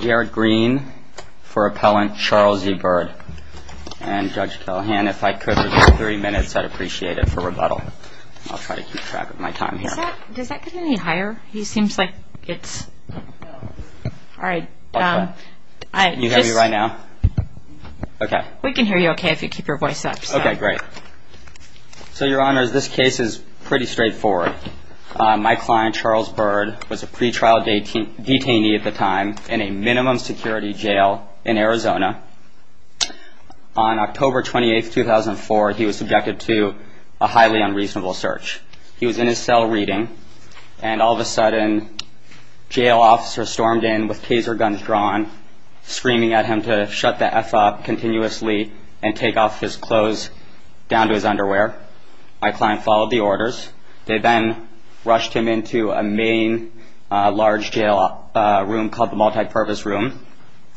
Jared Green for Appellant Charles E. Byrd And Judge Callahan, if I could reserve three minutes, I'd appreciate it, for rebuttal. I'll try to keep track of my time here. Does that get any higher? He seems like it's... Alright, um... Can you hear me right now? Okay. We can hear you okay if you keep your voice up, so... Okay, great. So, Your Honors, this case is pretty straightforward. My client, Charles Byrd, was a pretrial detainee at the time in a minimum security jail in Arizona. On October 28, 2004, he was subjected to a highly unreasonable search. He was in his cell reading, and all of a sudden, jail officers stormed in with taser guns drawn, screaming at him to shut the F up continuously and take off his clothes down to his underwear. My client followed the orders. They then rushed him into a main, large jail room called the multipurpose room.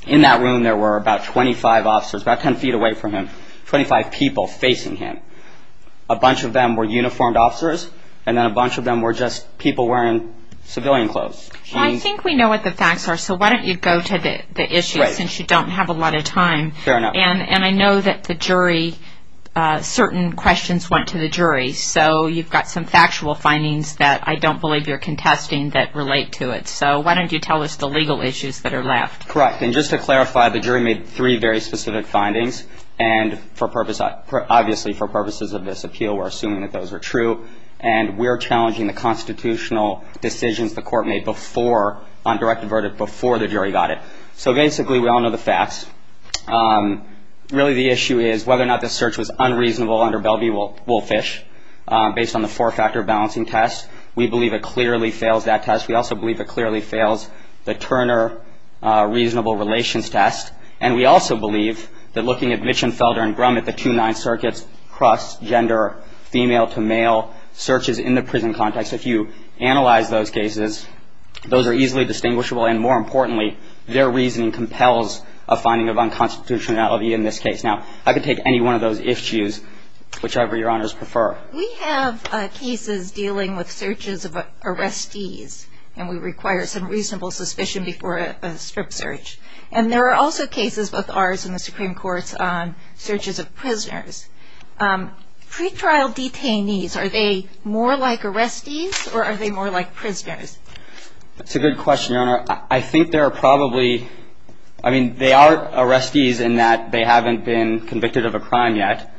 In that room, there were about 25 officers, about 10 feet away from him, 25 people facing him. A bunch of them were uniformed officers, and then a bunch of them were just people wearing civilian clothes. I think we know what the facts are, so why don't you go to the issues, since you don't have a lot of time. Fair enough. And I know that the jury, certain questions went to the jury, so you've got some factual findings that I don't believe you're contesting that relate to it. So why don't you tell us the legal issues that are left. Correct. And just to clarify, the jury made three very specific findings, and obviously for purposes of this appeal, we're assuming that those are true, and we're challenging the constitutional decisions the court made on direct and verdict before the jury got it. So basically, we all know the facts. Really, the issue is whether or not this search was unreasonable under Bellevue-Wolfish, based on the four-factor balancing test. We believe it clearly fails that test. We also believe it clearly fails the Turner reasonable relations test, and we also believe that looking at Mitchenfelder and Grumman, the two nine circuits, cross-gender, female to male searches in the prison context, if you analyze those cases, those are easily distinguishable, and more importantly, their reasoning compels a finding of unconstitutionality in this case. Now, I could take any one of those if-chews, whichever Your Honors prefer. We have cases dealing with searches of arrestees, and we require some reasonable suspicion before a strip search. And there are also cases, both ours and the Supreme Court's, on searches of prisoners. Pretrial detainees, are they more like arrestees, or are they more like prisoners? That's a good question, Your Honor. I think there are probably ñ I mean, they are arrestees in that they haven't been convicted of a crime yet.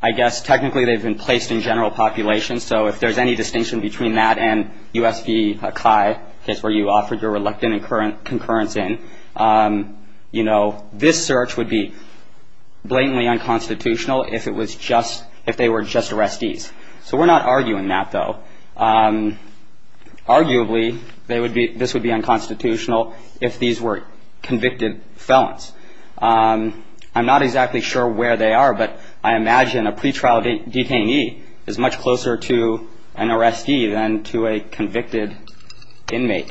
I guess technically they've been placed in general population, so if there's any distinction between that and U.S. v. Kai, the case where you offered your reluctant concurrence in, you know, this search would be blatantly unconstitutional if it was just ñ if they were just arrestees. So we're not arguing that, though. Arguably, they would be ñ this would be unconstitutional if these were convicted felons. I'm not exactly sure where they are, but I imagine a pretrial detainee is much closer to an arrestee than to a convicted inmate.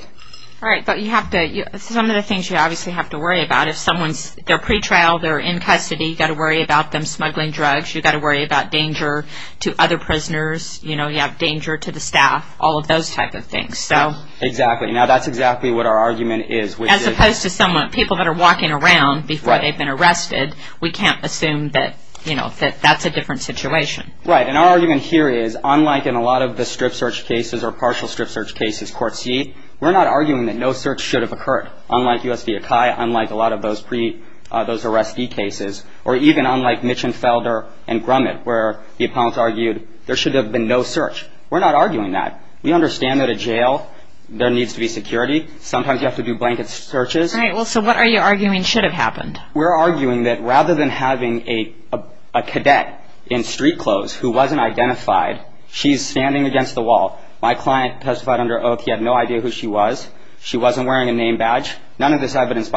All right, but you have to ñ some of the things you obviously have to worry about, if someone's ñ they're pretrial, they're in custody, you've got to worry about them smuggling drugs, you've got to worry about danger to other prisoners. You know, you have danger to the staff, all of those type of things. So ñ Exactly. Now, that's exactly what our argument is, which is ñ As opposed to someone ñ people that are walking around before they've been arrested, we can't assume that, you know, that that's a different situation. Right. And our argument here is, unlike in a lot of the strip search cases or partial strip search cases, court C, we're not arguing that no search should have occurred, unlike U.S. v. Kai, unlike a lot of those pre ñ those arrestee cases, or even unlike Mitchenfelder and Grumman, where the opponents argued there should have been no search. We're not arguing that. We understand that a jail ñ there needs to be security. Sometimes you have to do blanket searches. Right. Well, so what are you arguing should have happened? We're arguing that rather than having a cadet in street clothes who wasn't identified, she's standing against the wall. My client testified under oath he had no idea who she was. She wasn't wearing a name badge. Well, it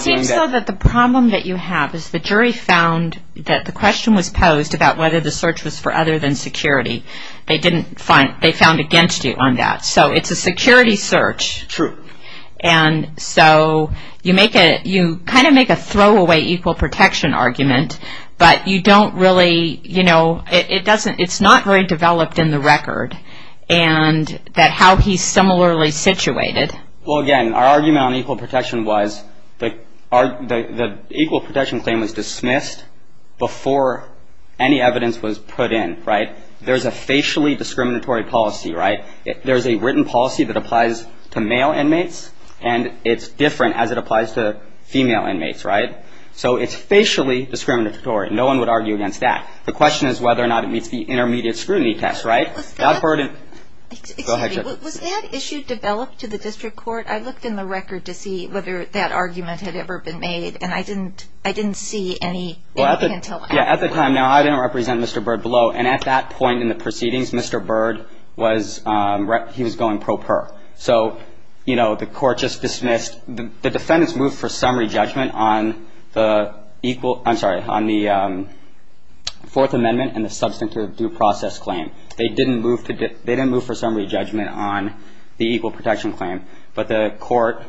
seems so that the problem that you have is the jury found that the question was posed about whether the search was for other than security. They didn't find ñ they found against you on that. So it's a security search. True. And so you make a ñ you kind of make a throwaway equal protection argument, but you don't really, you know, it doesn't ñ it's not very developed in the record, and that how he's similarly situated. Well, again, our argument on equal protection was the equal protection claim was dismissed before any evidence was put in. Right. There's a facially discriminatory policy. Right. There's a written policy that applies to male inmates, and it's different as it applies to female inmates. Right. So it's facially discriminatory. No one would argue against that. The question is whether or not it meets the intermediate scrutiny test. Right. Excuse me. Was that issue developed to the district court? I looked in the record to see whether that argument had ever been made, and I didn't see anything until after. Yeah, at the time, now, I didn't represent Mr. Bird below, and at that point in the proceedings, Mr. Bird was ñ he was going pro per. So, you know, the court just dismissed ñ the defendants moved for summary judgment on the equal ñ I'm sorry, on the Fourth Amendment and the substantive due process claim. They didn't move for summary judgment on the equal protection claim, but the court,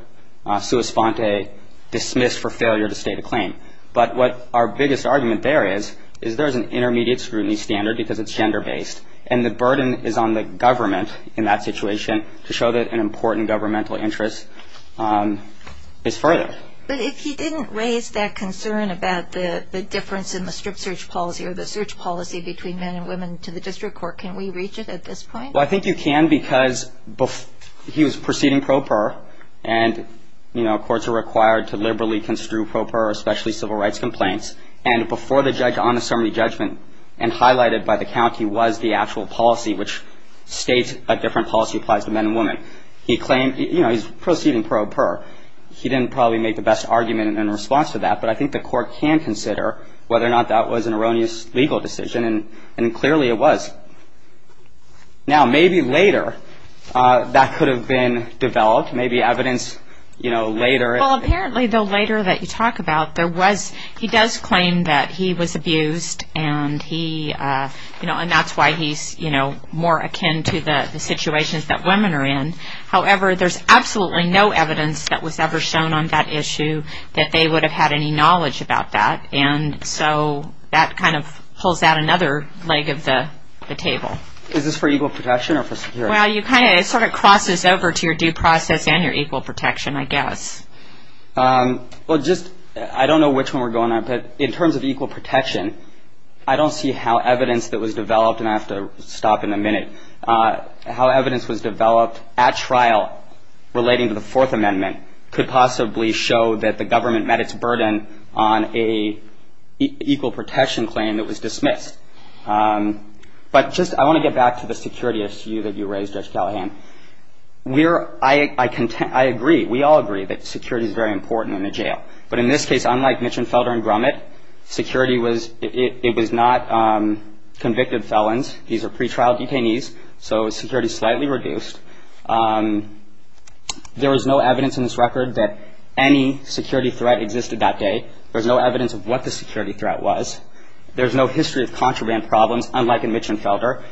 sua sponte, dismissed for failure to state a claim. But what our biggest argument there is, is there's an intermediate scrutiny standard because it's gender-based, and the burden is on the government in that situation to show that an important governmental interest is further. But if he didn't raise that concern about the difference in the strict search policy or the search policy between men and women to the district court, can we reach it at this point? Well, I think you can because he was proceeding pro per, and, you know, courts are required to liberally construe pro per, especially civil rights complaints, and before the judge on the summary judgment and highlighted by the county was the actual policy, which states a different policy applies to men and women. He claimed, you know, he's proceeding pro per. He didn't probably make the best argument in response to that, but I think the court can consider whether or not that was an erroneous legal decision, and clearly it was. Now, maybe later that could have been developed, maybe evidence, you know, later. Well, apparently the later that you talk about, there was, he does claim that he was abused, and he, you know, and that's why he's, you know, more akin to the situations that women are in. However, there's absolutely no evidence that was ever shown on that issue that they would have had any knowledge about that, and so that kind of pulls out another leg of the table. Is this for equal protection or for security? Well, you kind of, it sort of crosses over to your due process and your equal protection, I guess. Well, just, I don't know which one we're going on, but in terms of equal protection, I don't see how evidence that was developed, and I have to stop in a minute, how evidence was developed at trial relating to the Fourth Amendment could possibly show that the government met its burden on an equal protection claim that was dismissed. But just, I want to get back to the security issue that you raised, Judge Callahan. We're, I agree, we all agree that security is very important in the jail, but in this case, unlike Mitchenfelder and Grumman, security was, it was not convicted felons. These are pretrial detainees, so security is slightly reduced. There is no evidence in this record that any security threat existed that day. There's no evidence of what the security threat was. There's no history of contraband problems, unlike in Mitchenfelder.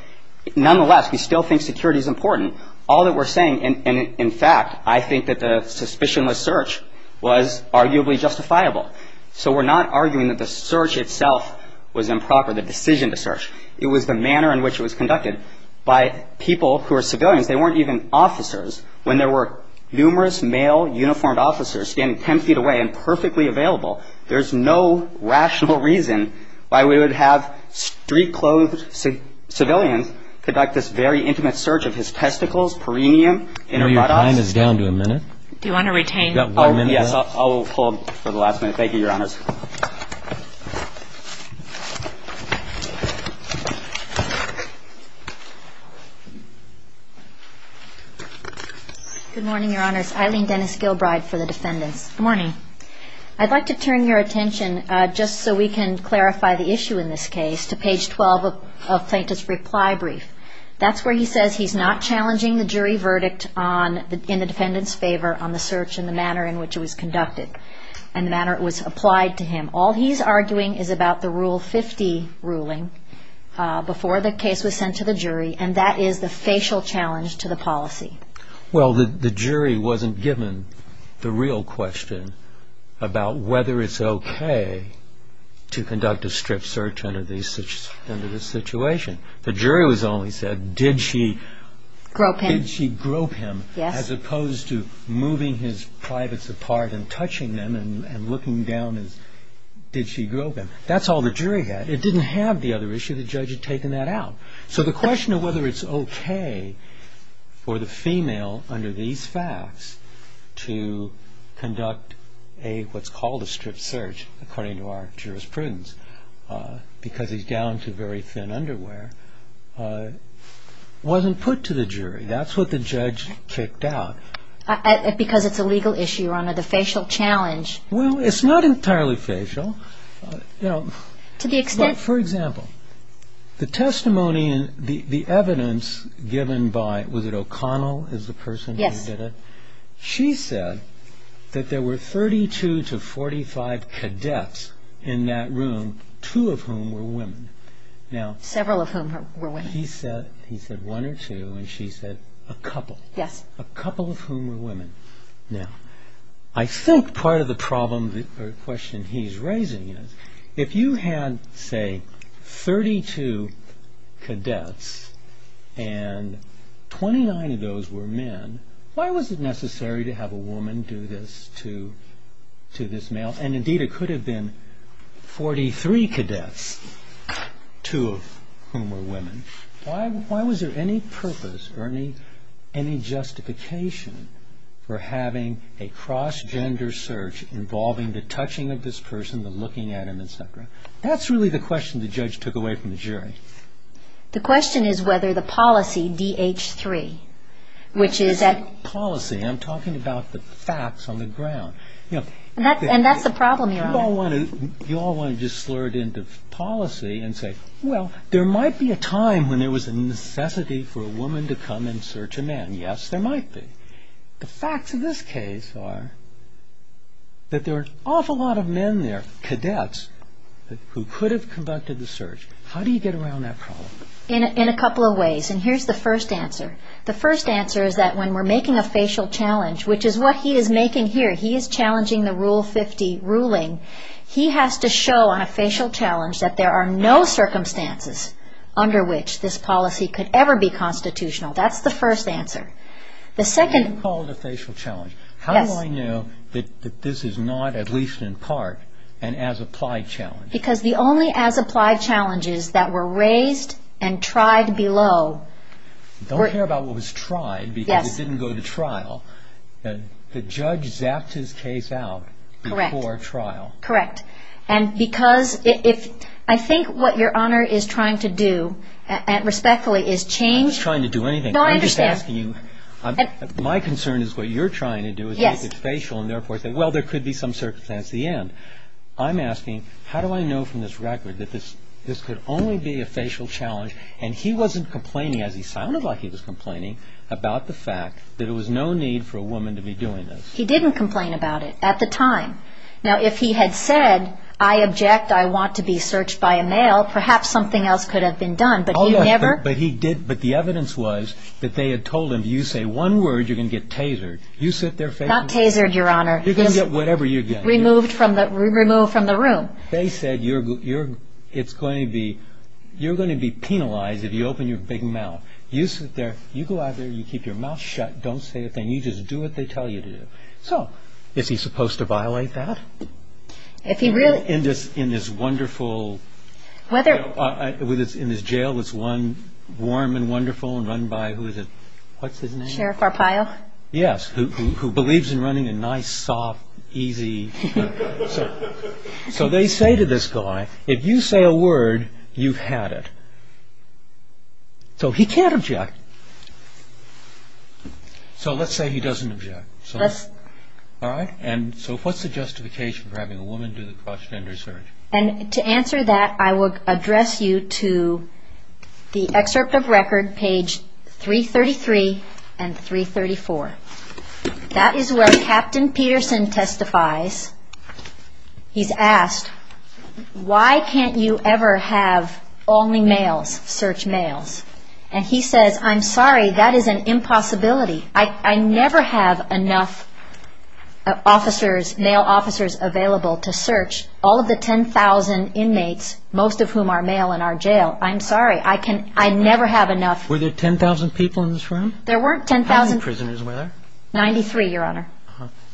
Nonetheless, we still think security is important. All that we're saying, and in fact, I think that the suspicionless search was arguably justifiable. So we're not arguing that the search itself was improper, the decision to search. It was the manner in which it was conducted by people who are civilians. They weren't even officers. When there were numerous male uniformed officers standing ten feet away and perfectly available, there's no rational reason why we would have street-clothed civilians conduct this very intimate search of his testicles, perineum, inner buttocks. Your time is down to a minute. Do you want to retain? Yes, I'll hold for the last minute. Thank you, Your Honors. Good morning, Your Honors. Eileen Dennis Gilbride for the defendants. Good morning. I'd like to turn your attention, just so we can clarify the issue in this case, to page 12 of Plaintiff's reply brief. That's where he says he's not challenging the jury verdict in the defendant's favor on the search and the manner in which it was conducted and the manner it was applied to the defendant. All he's arguing is about the Rule 50 ruling before the case was sent to the jury, and that is the facial challenge to the policy. Well, the jury wasn't given the real question about whether it's okay to conduct a strip search under this situation. The jury only said, did she grope him, as opposed to moving his privates apart and touching them and looking down, did she grope him? That's all the jury had. It didn't have the other issue. The judge had taken that out. So the question of whether it's okay for the female under these facts to conduct what's called a strip search, according to our jurisprudence, because he's down to very thin underwear, wasn't put to the jury. That's what the judge kicked out. Because it's a legal issue under the facial challenge. Well, it's not entirely facial. To the extent... For example, the testimony and the evidence given by, was it O'Connell is the person who did it? Yes. She said that there were 32 to 45 cadets in that room, two of whom were women. Several of whom were women. He said one or two, and she said a couple. Yes. A couple of whom were women. Now, I think part of the problem or question he's raising is, if you had, say, 32 cadets and 29 of those were men, why was it necessary to have a woman do this to this male? And indeed, it could have been 43 cadets, two of whom were women. Why was there any purpose or any justification for having a cross-gender search involving the touching of this person, the looking at him, et cetera? That's really the question the judge took away from the jury. The question is whether the policy, DH3, which is at... Policy. I'm talking about the facts on the ground. And that's the problem, Your Honor. You all want to just slur it into policy and say, well, there might be a time when there was a necessity for a woman to come and search a man. Yes, there might be. The facts of this case are that there are an awful lot of men there, cadets, who could have conducted the search. How do you get around that problem? In a couple of ways, and here's the first answer. The first answer is that when we're making a facial challenge, which is what he is making here, he is challenging the Rule 50 ruling, he has to show on a facial challenge that there are no circumstances under which this policy could ever be constitutional. That's the first answer. The second... You call it a facial challenge. Yes. How do I know that this is not, at least in part, an as-applied challenge? Because the only as-applied challenges that were raised and tried below... Don't care about what was tried because it didn't go to trial. The judge zapped his case out before trial. Correct. I think what Your Honor is trying to do, respectfully, is change... I'm not trying to do anything. No, I understand. My concern is what you're trying to do is make it facial and therefore say, well, there could be some circumstance at the end. I'm asking, how do I know from this record that this could only be a facial challenge? And he wasn't complaining, as he sounded like he was complaining, about the fact that there was no need for a woman to be doing this. He didn't complain about it at the time. Now, if he had said, I object, I want to be searched by a male, perhaps something else could have been done. But he never... But the evidence was that they had told him, you say one word, you're going to get tasered. You sit there... Not tasered, Your Honor. You're going to get whatever you get. Removed from the room. They said, you're going to be penalized if you open your big mouth. You sit there, you go out there, you keep your mouth shut, don't say a thing, you just do what they tell you to do. So, is he supposed to violate that? If he really... In this wonderful... Whether... In this jail that's warm and wonderful and run by, who is it, what's his name? Sheriff Arpaio. Yes, who believes in running a nice, soft, easy... So, they say to this guy, if you say a word, you've had it. So, he can't object. So, let's say he doesn't object. Let's... All right? And so, what's the justification for having a woman do the cross-gender search? And to answer that, I would address you to the excerpt of record, page 333 and 334. That is where Captain Peterson testifies. He's asked, why can't you ever have only males search males? And he says, I'm sorry, that is an impossibility. I never have enough officers, male officers available to search all of the 10,000 inmates, most of whom are male in our jail. I'm sorry, I can... I never have enough... Were there 10,000 people in this room? There weren't 10,000... 10,000 were there? 93, Your Honor.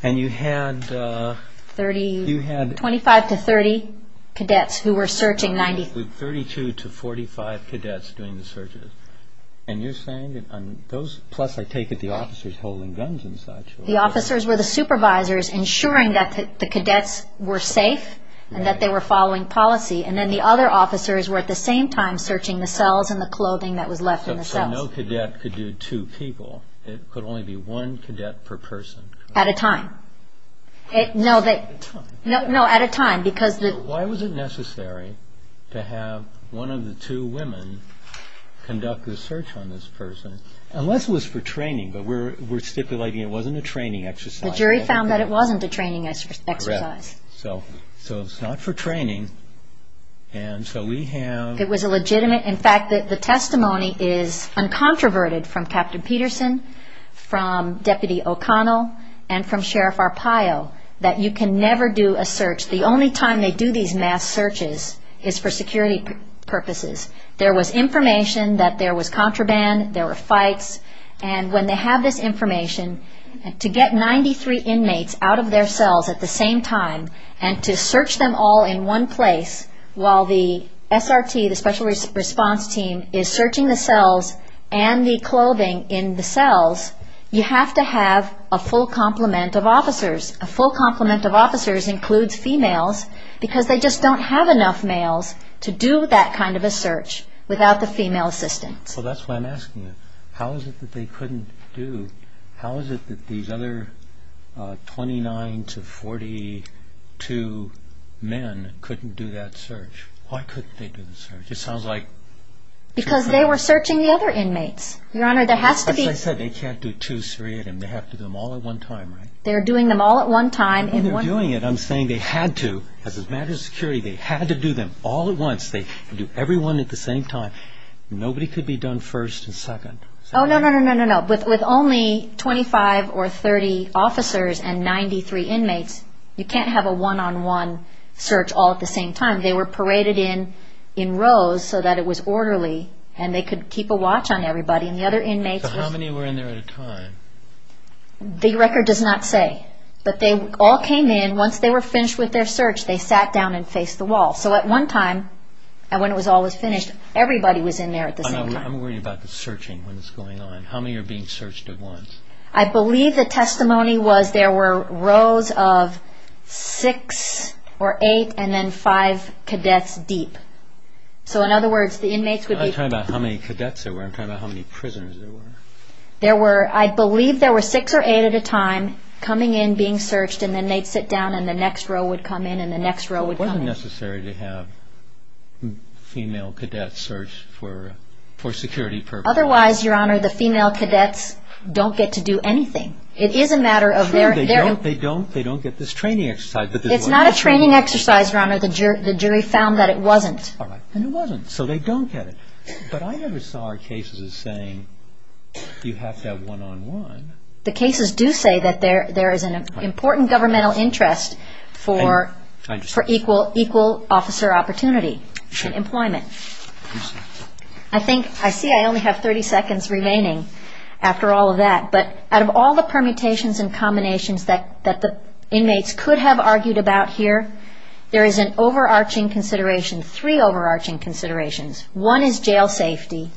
And you had... 30... You had... 25 to 30 cadets who were searching 90... With 32 to 45 cadets doing the searches. And you're saying that on those... Plus, I take it the officers holding guns and such... The officers were the supervisors, ensuring that the cadets were safe and that they were following policy. And then the other officers were at the same time searching the cells and the clothing that was left in the cells. So no cadet could do two people. It could only be one cadet per person. At a time. No, at a time, because... Why was it necessary to have one of the two women conduct the search on this person? Unless it was for training, but we're stipulating it wasn't a training exercise. The jury found that it wasn't a training exercise. Correct. So it's not for training, and so we have... I think it was a legitimate... In fact, the testimony is uncontroverted from Captain Peterson, from Deputy O'Connell, and from Sheriff Arpaio, that you can never do a search... The only time they do these mass searches is for security purposes. There was information that there was contraband, there were fights, and when they have this information, to get 93 inmates out of their cells at the same time and to search them all in one place while the SRT, the Special Response Team, is searching the cells and the clothing in the cells, you have to have a full complement of officers. A full complement of officers includes females, because they just don't have enough males to do that kind of a search without the female assistants. Well, that's why I'm asking you. How is it that they couldn't do... two men couldn't do that search? Why couldn't they do the search? It sounds like... Because they were searching the other inmates. Your Honor, there has to be... As I said, they can't do two seriatim. They have to do them all at one time, right? They're doing them all at one time in one... When they're doing it, I'm saying they had to. As a matter of security, they had to do them all at once. They can do every one at the same time. Nobody could be done first and second. Oh, no, no, no, no, no, no. With only 25 or 30 officers and 93 inmates, you can't have a one-on-one search all at the same time. They were paraded in in rows so that it was orderly, and they could keep a watch on everybody. And the other inmates... So how many were in there at a time? The record does not say. But they all came in. Once they were finished with their search, they sat down and faced the wall. So at one time, when it was all was finished, everybody was in there at the same time. I'm worried about the searching when it's going on. How many are being searched at once? I believe the testimony was there were rows of 6 or 8 and then 5 cadets deep. So in other words, the inmates would be... I'm not talking about how many cadets there were. I'm talking about how many prisoners there were. I believe there were 6 or 8 at a time coming in, being searched, and then they'd sit down, and the next row would come in, and the next row would come in. It wasn't necessary to have female cadets searched for security purposes. Otherwise, Your Honor, the female cadets don't get to do anything. It is a matter of their... They don't get this training exercise. It's not a training exercise, Your Honor. The jury found that it wasn't. And it wasn't. So they don't get it. But I never saw our cases as saying you have to have one-on-one. for equal officer opportunity and employment. I think... I see I only have 30 seconds remaining after all of that. But out of all the permutations and combinations that the inmates could have argued about here, there is an overarching consideration, three overarching considerations. One is jail safety.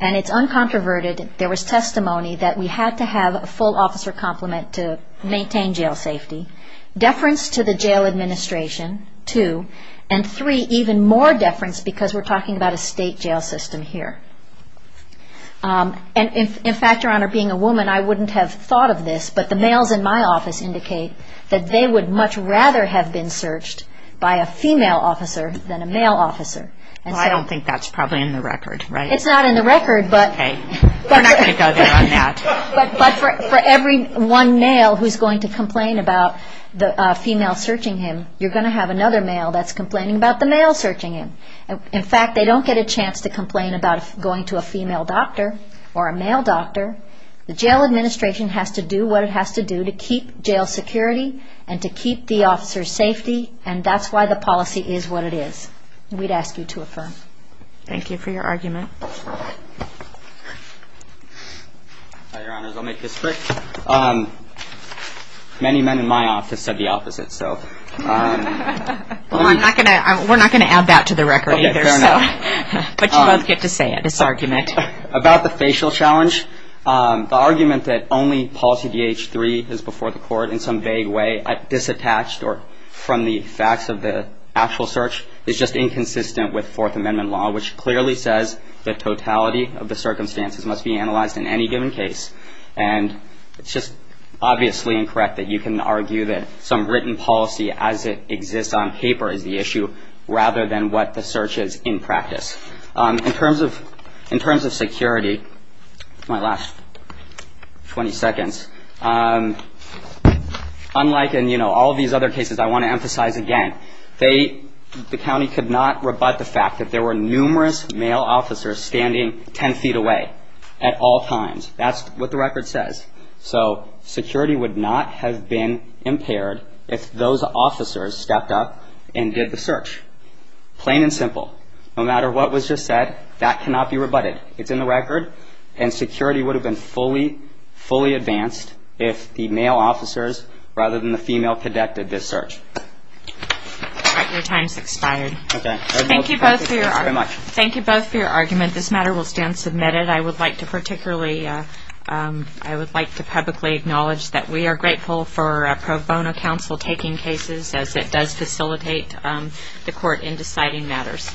And it's uncontroverted. There was testimony that we had to have a full officer complement to maintain jail safety. Deference to the jail administration, two. And three, even more deference because we're talking about a state jail system here. And in fact, Your Honor, being a woman, I wouldn't have thought of this, but the males in my office indicate that they would much rather have been searched by a female officer than a male officer. Well, I don't think that's probably in the record, right? It's not in the record, but... Okay. We're not going to go there on that. But for every one male who's going to complain about the female searching him, you're going to have another male that's complaining about the male searching him. In fact, they don't get a chance to complain about going to a female doctor or a male doctor. The jail administration has to do what it has to do to keep jail security and to keep the officer's safety, and that's why the policy is what it is. We'd ask you to affirm. Thank you for your argument. Your Honors, I'll make this quick. Many men in my office said the opposite, so... Well, we're not going to add that to the record either, so... Okay, fair enough. But you both get to say it, this argument. About the facial challenge, the argument that only policy DH-3 is before the court in some vague way, disattached from the facts of the actual search, is just inconsistent with Fourth Amendment law, which clearly says the totality of the circumstances must be analyzed in any given case. And it's just obviously incorrect that you can argue that some written policy as it exists on paper is the issue rather than what the search is in practice. In terms of security, my last 20 seconds, unlike in all of these other cases, I want to emphasize again, the county could not rebut the fact that there were numerous male officers standing 10 feet away at all times. That's what the record says. So security would not have been impaired if those officers stepped up and did the search. Plain and simple. No matter what was just said, that cannot be rebutted. It's in the record, and security would have been fully, fully advanced if the male officers rather than the female conducted this search. All right, your time's expired. Thank you both for your argument. This matter will stand submitted. I would like to publicly acknowledge that we are grateful for Pro Bono Council taking cases as it does facilitate the court in deciding matters.